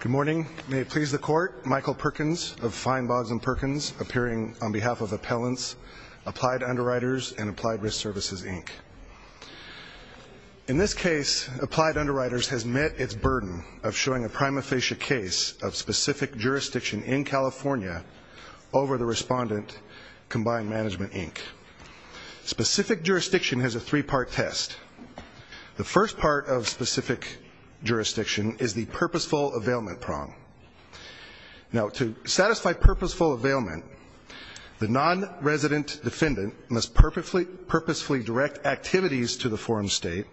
Good morning. May it please the Court, Michael Perkins of Fine Bogs and Perkins, appearing on behalf of Appellants, Applied Underwriters, and Applied Risk Services, Inc. In this case, Applied Underwriters has met its burden of showing a prima facie case of specific jurisdiction in California over the respondent, Combined Management, Inc. Specific jurisdiction has a three-part test. The first part of specific jurisdiction is the purposeful availment prong. To satisfy purposeful availment, the non-resident defendant must purposefully direct activities to the forum state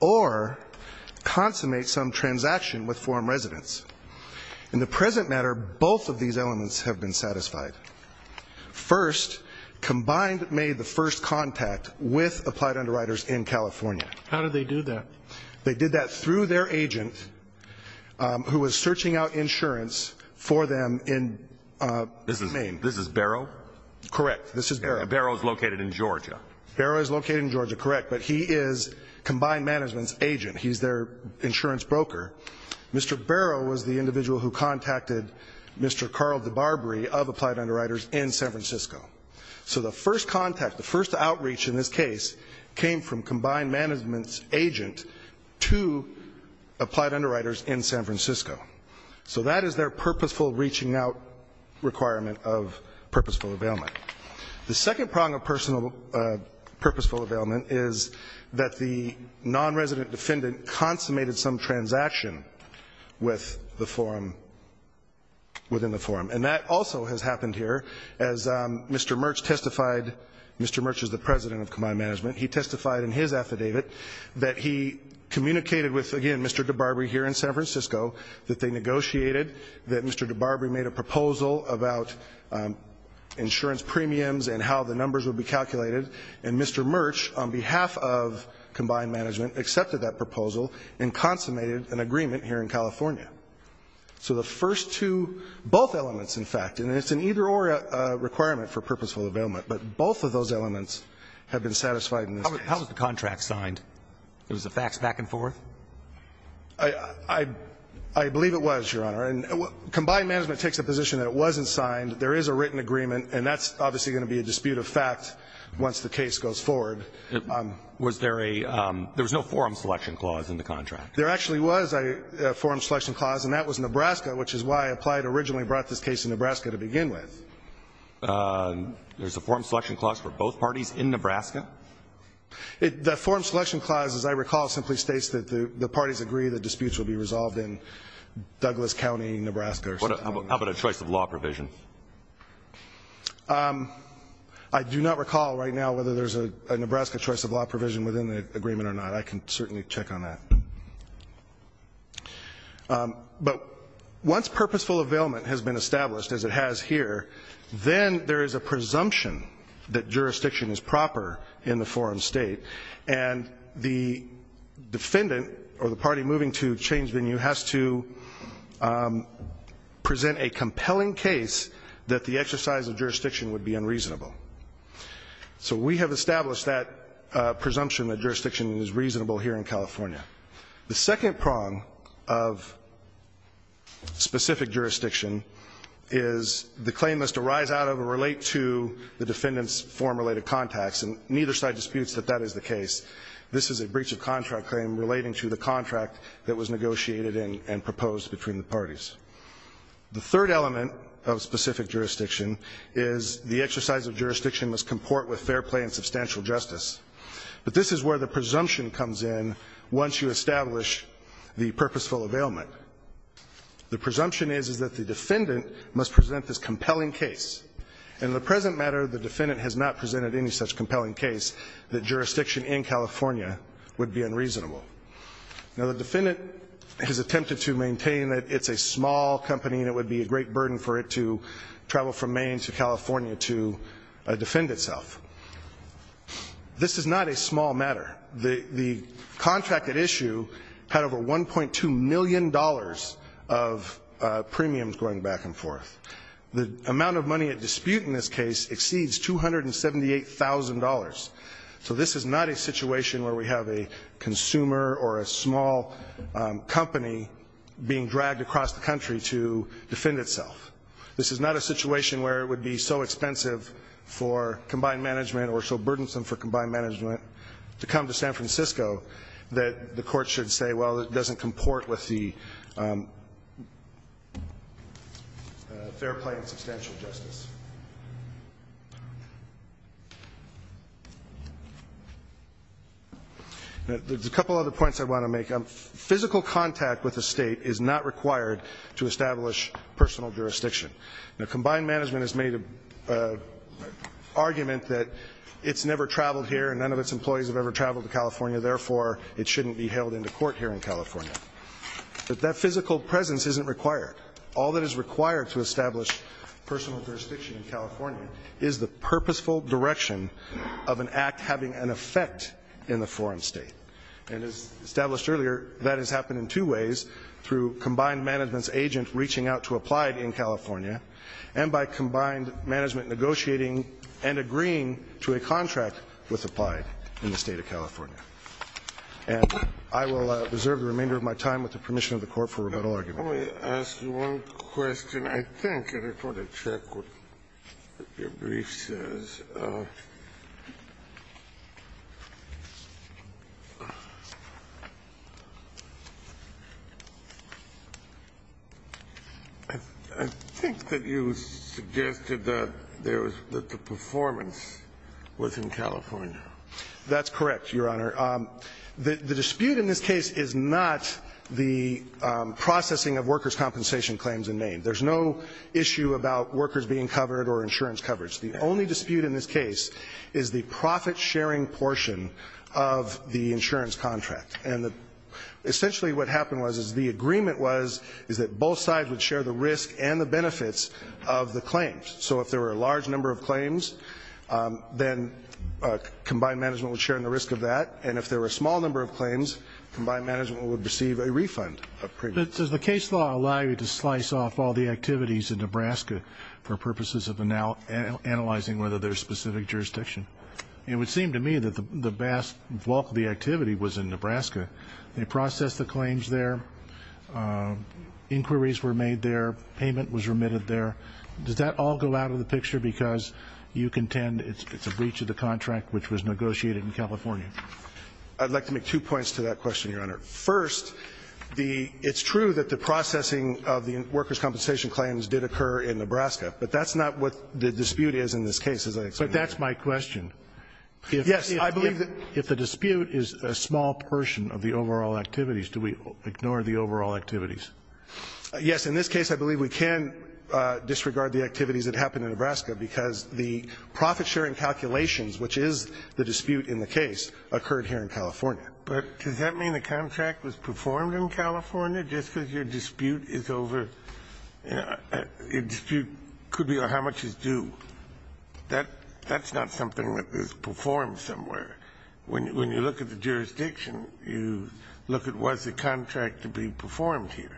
or consummate some transaction with forum residents. In the present matter, both of these elements have been satisfied. First, Combined made the first contact with Applied Underwriters in California. How did they do that? They did that through their agent who was searching out insurance for them in Maine. This is Barrow? Correct. This is Barrow. Barrow is located in Georgia. Barrow is located in Georgia, correct. But he is Combined Management's agent. He's their insurance broker. Mr. Barrow was the individual who contacted Mr. Carl DeBarbery of Applied Underwriters in San Francisco. So the first contact, the first outreach in this case, came from Combined Management's agent to Applied Underwriters in San Francisco. So that is their purposeful reaching out requirement of purposeful availment. The second prong of purposeful availment is that the non-resident defendant consummated some transaction within the forum. And that also has happened here as Mr. Murch testified. Mr. Murch is the president of Combined Management. He testified in his affidavit that he communicated with, again, Mr. DeBarbery here in San Francisco, that they negotiated, that Mr. DeBarbery made a proposal about insurance premiums and how the numbers would be calculated. And Mr. Murch, on behalf of Combined Management, accepted that proposal and consummated an agreement here in California. So the first two, both elements, in fact, and it's an either-or requirement for purposeful availment, but both of those elements have been satisfied in this case. How was the contract signed? Was the fax back and forth? I believe it was, Your Honor. Combined Management takes a position that it wasn't signed. There is a written agreement, and that's obviously going to be a dispute of fact once the case goes forward. Was there a ‑‑ there was no forum selection clause in the contract? There actually was a forum selection clause, and that was Nebraska, which is why Applied originally brought this case to Nebraska to begin with. There's a forum selection clause for both parties in Nebraska? The forum selection clause, as I recall, simply states that the parties agree that disputes will be resolved in Douglas County, Nebraska. How about a choice of law provision? I do not recall right now whether there's a Nebraska choice of law provision within the agreement or not. I can certainly check on that. But once purposeful availment has been established, as it has here, then there is a presumption that jurisdiction is proper in the forum state, and the defendant or the party moving to change venue has to present a compelling case that the exercise of jurisdiction would be unreasonable. So we have established that presumption that jurisdiction is reasonable here in California. The second prong of specific jurisdiction is the claim must arise out of or relate to the defendant's forum-related contacts, and neither side disputes that that is the case. This is a breach of contract claim relating to the contract that was negotiated and proposed between the parties. The third element of specific jurisdiction is the exercise of jurisdiction must comport with fair play and substantial justice. But this is where the presumption comes in once you establish the purposeful availment. The presumption is that the defendant must present this compelling case. In the present matter, the defendant has not presented any such compelling case that jurisdiction in California would be unreasonable. Now, the defendant has attempted to maintain that it's a small company and it would be a great burden for it to travel from Maine to California to defend itself. This is not a small matter. The contract at issue had over $1.2 million of premiums going back and forth. The amount of money at dispute in this case exceeds $278,000. So this is not a situation where we have a consumer or a small company being dragged across the country to defend itself. This is not a situation where it would be so expensive for combined management or so burdensome for combined management to come to San Francisco that the court should say, well, it doesn't comport with the fair play and substantial justice. There's a couple other points I want to make. Physical contact with the state is not required to establish personal jurisdiction. Now, combined management has made an argument that it's never traveled here and none of its employees have ever traveled to California, therefore it shouldn't be held into court here in California. But that physical presence isn't required. All that is required to establish personal jurisdiction in California is the purposeful direction of an act having an effect in the foreign state. And as established earlier, that has happened in two ways, through combined management's agent reaching out to Applied in California and by combined management negotiating and agreeing to a contract with Applied in the State of California. And I will reserve the remainder of my time with the permission of the Court for rebuttal arguments. Let me ask you one question. I think, and I just want to check what your brief says. I think that you suggested that there was the performance was in California. That's correct, Your Honor. The dispute in this case is not the processing of workers' compensation claims in Maine. There's no issue about workers being covered or insurance coverage. The only dispute in this case is the profit-sharing portion of the insurance contract. And essentially what happened was the agreement was that both sides would share the risk and the benefits of the claims. So if there were a large number of claims, then combined management would share in the risk of that. And if there were a small number of claims, combined management would receive a refund. Does the case law allow you to slice off all the activities in Nebraska for purposes of analyzing whether there's specific jurisdiction? It would seem to me that the vast bulk of the activity was in Nebraska. They processed the claims there. Inquiries were made there. Payment was remitted there. Does that all go out of the picture because you contend it's a breach of the contract which was negotiated in California? I'd like to make two points to that question, Your Honor. First, it's true that the processing of the workers' compensation claims did occur in Nebraska. But that's not what the dispute is in this case, as I explained. But that's my question. Yes, I believe that. If the dispute is a small portion of the overall activities, do we ignore the overall activities? Yes. In this case, I believe we can disregard the activities that happened in Nebraska because the profit-sharing calculations, which is the dispute in the case, occurred here in California. But does that mean the contract was performed in California just because your dispute is over? Your dispute could be how much is due. That's not something that was performed somewhere. When you look at the jurisdiction, you look at was the contract to be performed here.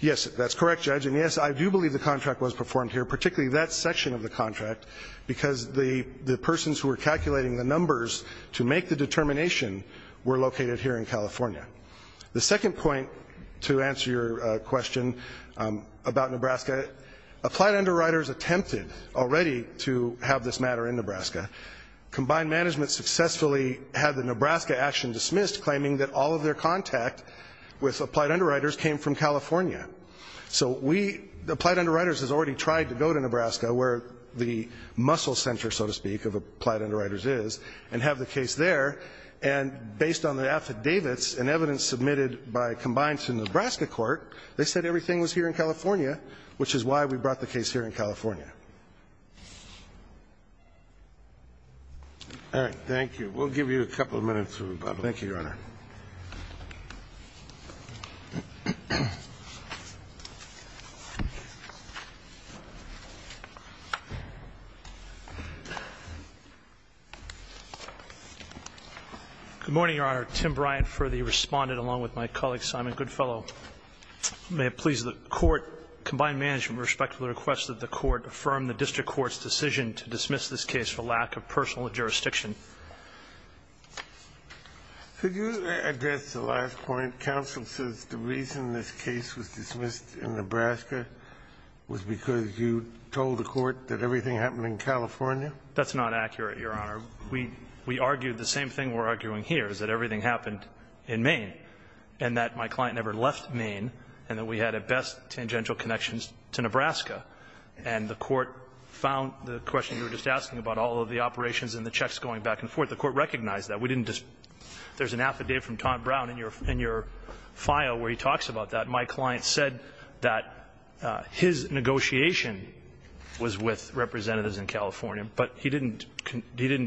Yes, that's correct, Judge. And, yes, I do believe the contract was performed here, particularly that section of the contract, because the persons who were calculating the numbers to make the determination were located here in California. The second point to answer your question about Nebraska, applied underwriters attempted already to have this matter in Nebraska. Combined Management successfully had the Nebraska action dismissed, claiming that all of their contact with applied underwriters came from California. So we, Applied Underwriters, has already tried to go to Nebraska, where the muscle center, so to speak, of Applied Underwriters is, and have the case there. And based on the affidavits and evidence submitted by Combined to Nebraska Court, they said everything was here in California, which is why we brought the case here in California. All right. Thank you. We'll give you a couple of minutes. Thank you, Your Honor. Good morning, Your Honor. Your Honor, Tim Bryant for the respondent, along with my colleague, Simon Goodfellow. May it please the Court, Combined Management, with respect to the request that the Court affirm the district court's decision to dismiss this case for lack of personal jurisdiction. Could you address the last point? Counsel says the reason this case was dismissed in Nebraska was because you told the court that everything happened in California? That's not accurate, Your Honor. We argued the same thing we're arguing here, is that everything happened in Maine, and that my client never left Maine, and that we had, at best, tangential connections to Nebraska. And the court found the question you were just asking about all of the operations and the checks going back and forth. The court recognized that. We didn't just – there's an affidavit from Tom Brown in your file where he talks about that. My client said that his negotiation was with representatives in California, but he didn't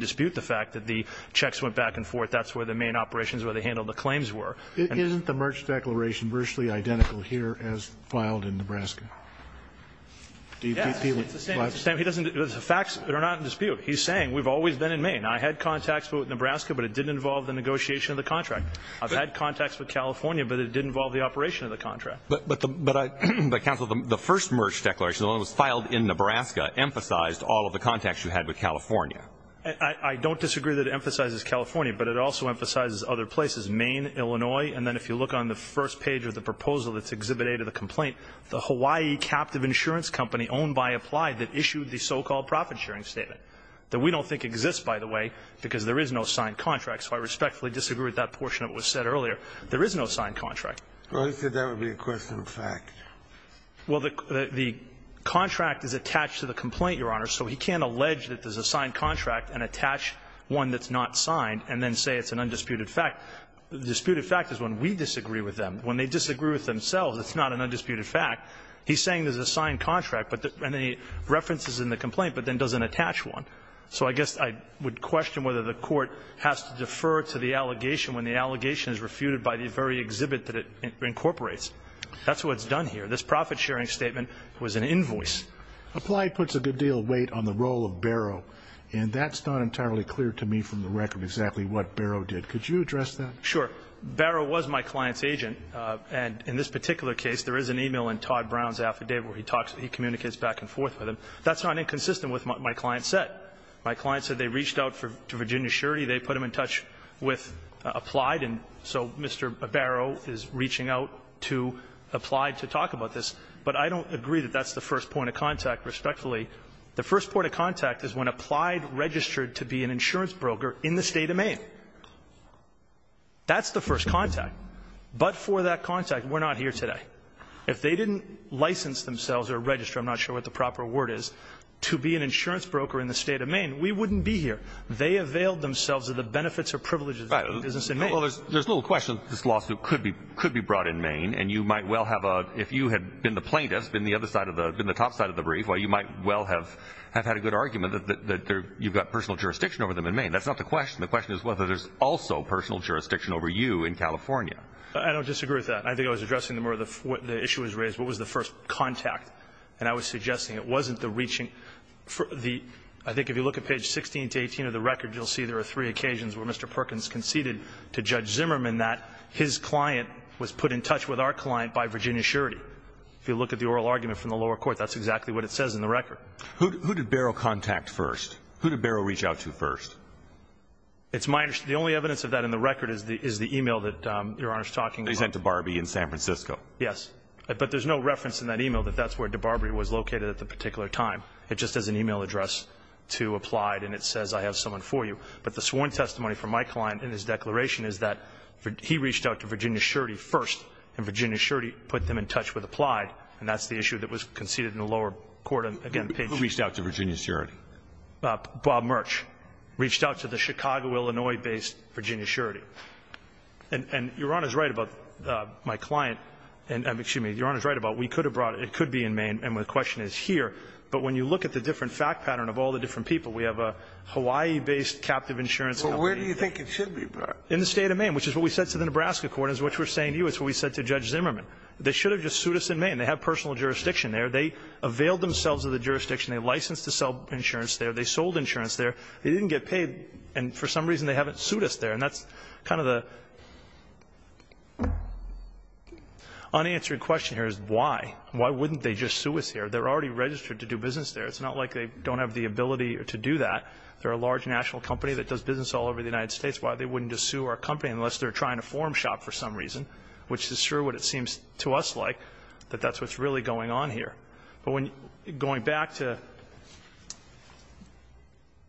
dispute the fact that the checks went back and forth. That's where the Maine operations, where they handled the claims, were. Isn't the Merch Declaration virtually identical here as filed in Nebraska? Yes. It's the same. The facts are not in dispute. He's saying we've always been in Maine. I had contacts with Nebraska, but it didn't involve the negotiation of the contract. I've had contacts with California, but it didn't involve the operation of the contract. But, Counsel, the first Merch Declaration, the one that was filed in Nebraska, emphasized all of the contacts you had with California. I don't disagree that it emphasizes California, but it also emphasizes other places, Maine, Illinois, and then if you look on the first page of the proposal that's exhibited, the complaint, the Hawaii captive insurance company owned by Applied that issued the so-called profit-sharing statement that we don't think exists, by the way, because there is no signed contract. So I respectfully disagree with that portion of what was said earlier. There is no signed contract. Well, he said that would be a question of fact. Well, the contract is attached to the complaint, Your Honor, so he can't allege that there's a signed contract and attach one that's not signed and then say it's an undisputed fact. The disputed fact is when we disagree with them. When they disagree with themselves, it's not an undisputed fact. He's saying there's a signed contract and the reference is in the complaint, but then doesn't attach one. So I guess I would question whether the Court has to defer to the allegation when the allegation is refuted by the very exhibit that it incorporates. That's what's done here. This profit-sharing statement was an invoice. Applied puts a good deal of weight on the role of Barrow, and that's not entirely clear to me from the record exactly what Barrow did. Could you address that? Sure. Barrow was my client's agent, and in this particular case, there is an e-mail in Todd Brown's affidavit where he communicates back and forth with him. That's not inconsistent with what my client said. My client said they reached out to Virginia Surety. They put him in touch with Applied, and so Mr. Barrow is reaching out to Applied to talk about this. But I don't agree that that's the first point of contact, respectfully. The first point of contact is when Applied registered to be an insurance broker in the State of Maine. That's the first contact. But for that contact, we're not here today. If they didn't license themselves or register, I'm not sure what the proper word is, to be an insurance broker in the State of Maine, we wouldn't be here. They availed themselves of the benefits or privileges of doing business in Maine. Well, there's little question this lawsuit could be brought in Maine, and you might well have a – if you had been the plaintiff, been the other side of the – been the top side of the brief, well, you might well have had a good argument that you've got personal jurisdiction over them in Maine. That's not the question. The question is whether there's also personal jurisdiction over you in California. I don't disagree with that. I think I was addressing the more the issue was raised, what was the first contact, and I was suggesting it wasn't the reaching for the – I think if you look at page 16 to 18 of the record, you'll see there are three occasions where Mr. Perkins conceded to Judge Zimmerman that his client was put in touch with our client by Virginia Surety. If you look at the oral argument from the lower court, that's exactly what it says in the record. Who did Barrow contact first? Who did Barrow reach out to first? It's my – the only evidence of that in the record is the email that Your Honor's talking about. They sent to Barbee in San Francisco. Yes. But there's no reference in that email that that's where DeBarbee was located at the particular time. It just has an email address to apply, and it says I have someone for you. But the sworn testimony from my client in his declaration is that he reached out to Virginia Surety first, and Virginia Surety put them in touch with Applied, and that's the issue that was conceded in the lower court. Again, page 16. Who reached out to Virginia Surety? Bob Murch reached out to the Chicago, Illinois-based Virginia Surety. And Your Honor's right about my client – excuse me. Your Honor's right about we could have brought – it could be in Maine, and the question is here. But when you look at the different fact pattern of all the different people, we have a Hawaii-based captive insurance company. But where do you think it should be brought? In the State of Maine, which is what we said to the Nebraska court, and it's what we're saying to you. It's what we said to Judge Zimmerman. They should have just sued us in Maine. They have personal jurisdiction there. They availed themselves of the jurisdiction. They licensed to sell insurance there. They sold insurance there. They didn't get paid, and for some reason they haven't sued us there. And that's kind of the unanswered question here is why? Why wouldn't they just sue us here? They're already registered to do business there. It's not like they don't have the ability to do that. They're a large national company that does business all over the United States. Why wouldn't they just sue our company unless they're trying to form shop for some reason, which is sure what it seems to us like, that that's what's really going on here. But going back to –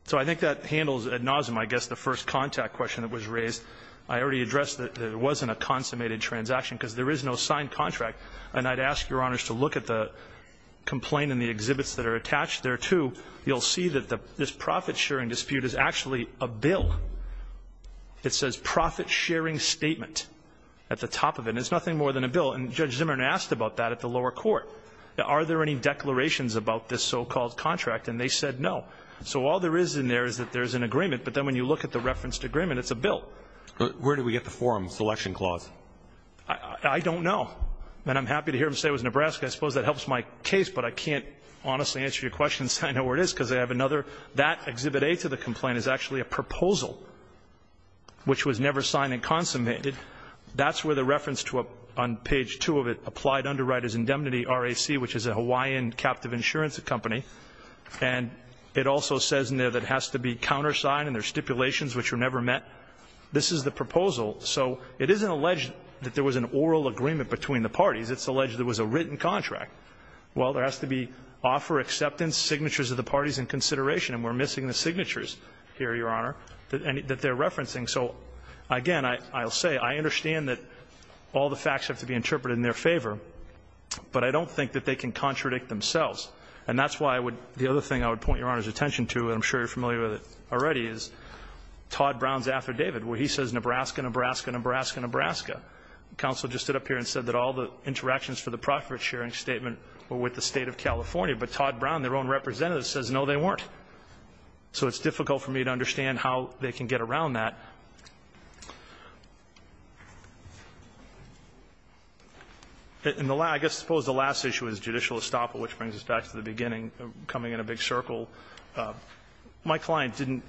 so I think that handles ad nauseum, I guess, the first contact question that was raised. I already addressed that it wasn't a consummated transaction because there is no You'll see that this profit-sharing dispute is actually a bill. It says profit-sharing statement at the top of it, and it's nothing more than a bill, and Judge Zimmerman asked about that at the lower court. Are there any declarations about this so-called contract? And they said no. So all there is in there is that there's an agreement, but then when you look at the referenced agreement, it's a bill. Where did we get the forum selection clause? I don't know, and I'm happy to hear them say it was Nebraska. I suppose that helps my case, but I can't honestly answer your questions. I know where it is because I have another. That Exhibit A to the complaint is actually a proposal, which was never signed and consummated. That's where the reference to a – on page 2 of it, applied underwriters indemnity, RAC, which is a Hawaiian captive insurance company. And it also says in there that it has to be countersigned, and there are stipulations which were never met. This is the proposal. So it isn't alleged that there was an oral agreement between the parties. It's alleged there was a written contract. Well, there has to be offer, acceptance, signatures of the parties, and consideration. And we're missing the signatures here, Your Honor, that they're referencing. So, again, I'll say I understand that all the facts have to be interpreted in their favor, but I don't think that they can contradict themselves. And that's why I would – the other thing I would point Your Honor's attention to, and I'm sure you're familiar with it already, is Todd Brown's affidavit where he says Nebraska, Nebraska, Nebraska, Nebraska. The counsel just stood up here and said that all the interactions for the profit sharing statement were with the State of California. But Todd Brown, their own representative, says no, they weren't. So it's difficult for me to understand how they can get around that. In the last – I guess I suppose the last issue is judicial estoppel, which brings us back to the beginning, coming in a big circle. My client didn't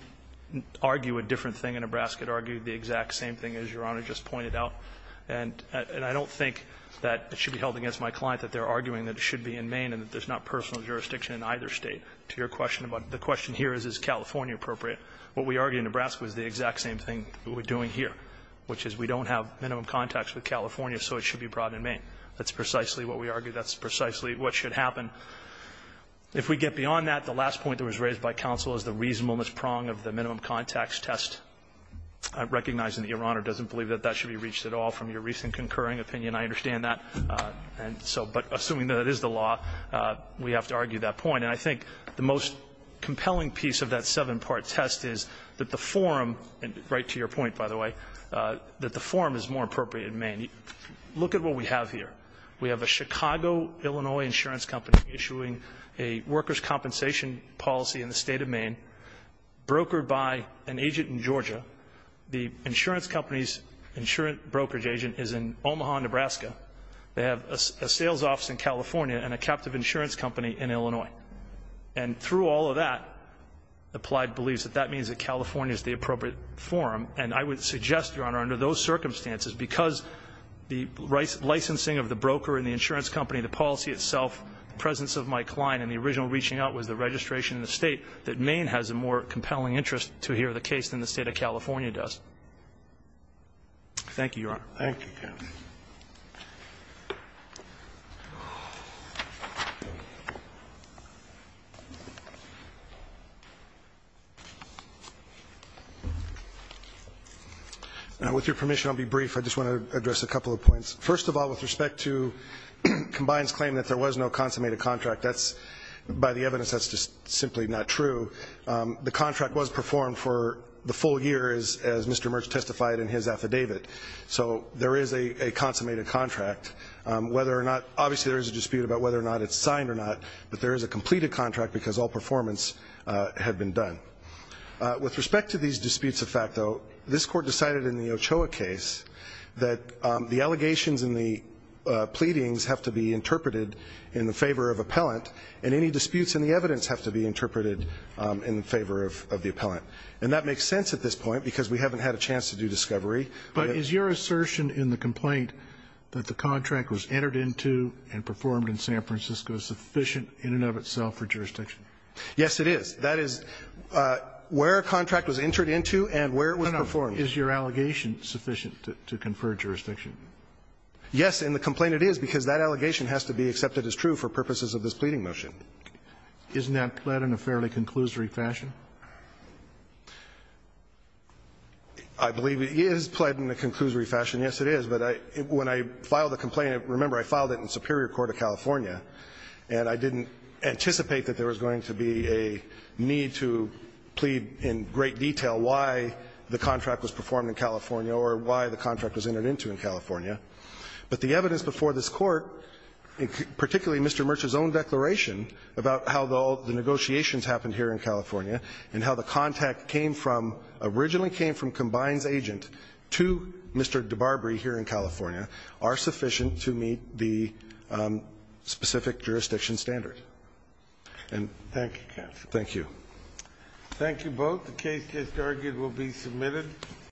argue a different thing. Nebraska argued the exact same thing as Your Honor just pointed out. And I don't think that it should be held against my client that they're arguing that it should be in Maine and that there's not personal jurisdiction in either State. To your question about – the question here is, is California appropriate? What we argue in Nebraska is the exact same thing that we're doing here, which is we don't have minimum contacts with California, so it should be brought in Maine. That's precisely what we argue. That's precisely what should happen. If we get beyond that, the last point that was raised by counsel is the reasonableness prong of the minimum contacts test. Recognizing that Your Honor doesn't believe that that should be reached at all from your recent concurring opinion, I understand that. And so – but assuming that is the law, we have to argue that point. And I think the most compelling piece of that seven-part test is that the forum – right to your point, by the way – that the forum is more appropriate in Maine. Look at what we have here. We have a Chicago, Illinois insurance company issuing a workers' compensation policy in the State of Maine, brokered by an agent in Georgia. The insurance company's insurance brokerage agent is in Omaha, Nebraska. They have a sales office in California and a captive insurance company in Illinois. And through all of that, Applied believes that that means that California is the appropriate forum. And I would suggest, Your Honor, under those circumstances, because the licensing of the broker and the insurance company, the policy itself, the presence of my client in the original reaching out was the registration in the State, that Maine has a more compelling interest to hear the case than the State of California does. Thank you, Your Honor. Thank you, counsel. With your permission, I'll be brief. I just want to address a couple of points. First of all, with respect to Combine's claim that there was no consummated contract, that's, by the evidence, that's just simply not true. The contract was performed for the full year, as Mr. Merch testified in his affidavit. So there is a consummated contract. Whether or not, obviously there is a dispute about whether or not it's signed or not, but there is a completed contract because all performance had been done. With respect to these disputes of fact, though, this court decided in the Ochoa case that the allegations and the pleadings have to be interpreted in the favor of appellant and any disputes in the evidence have to be interpreted in favor of the appellant. And that makes sense at this point because we haven't had a chance to do discovery. But is your assertion in the complaint that the contract was entered into and performed in San Francisco sufficient in and of itself for jurisdiction? Yes, it is. That is where a contract was entered into and where it was performed. Is your allegation sufficient to confer jurisdiction? Yes. In the complaint it is because that allegation has to be accepted as true for purposes of this pleading motion. Isn't that pled in a fairly conclusory fashion? I believe it is pled in a conclusory fashion. Yes, it is. But when I filed the complaint, remember I filed it in Superior Court of California and I didn't anticipate that there was going to be a need to plead in great detail why the contract was performed in California or why the contract was entered into in California. But the evidence before this Court, particularly Mr. Mercer's own declaration about how the negotiations happened here in California and how the contact came from, originally came from Combine's agent to Mr. DeBarberie here in California, are sufficient to meet the specific jurisdiction standard. Thank you, counsel. Thank you. Thank you both. The case just argued will be submitted.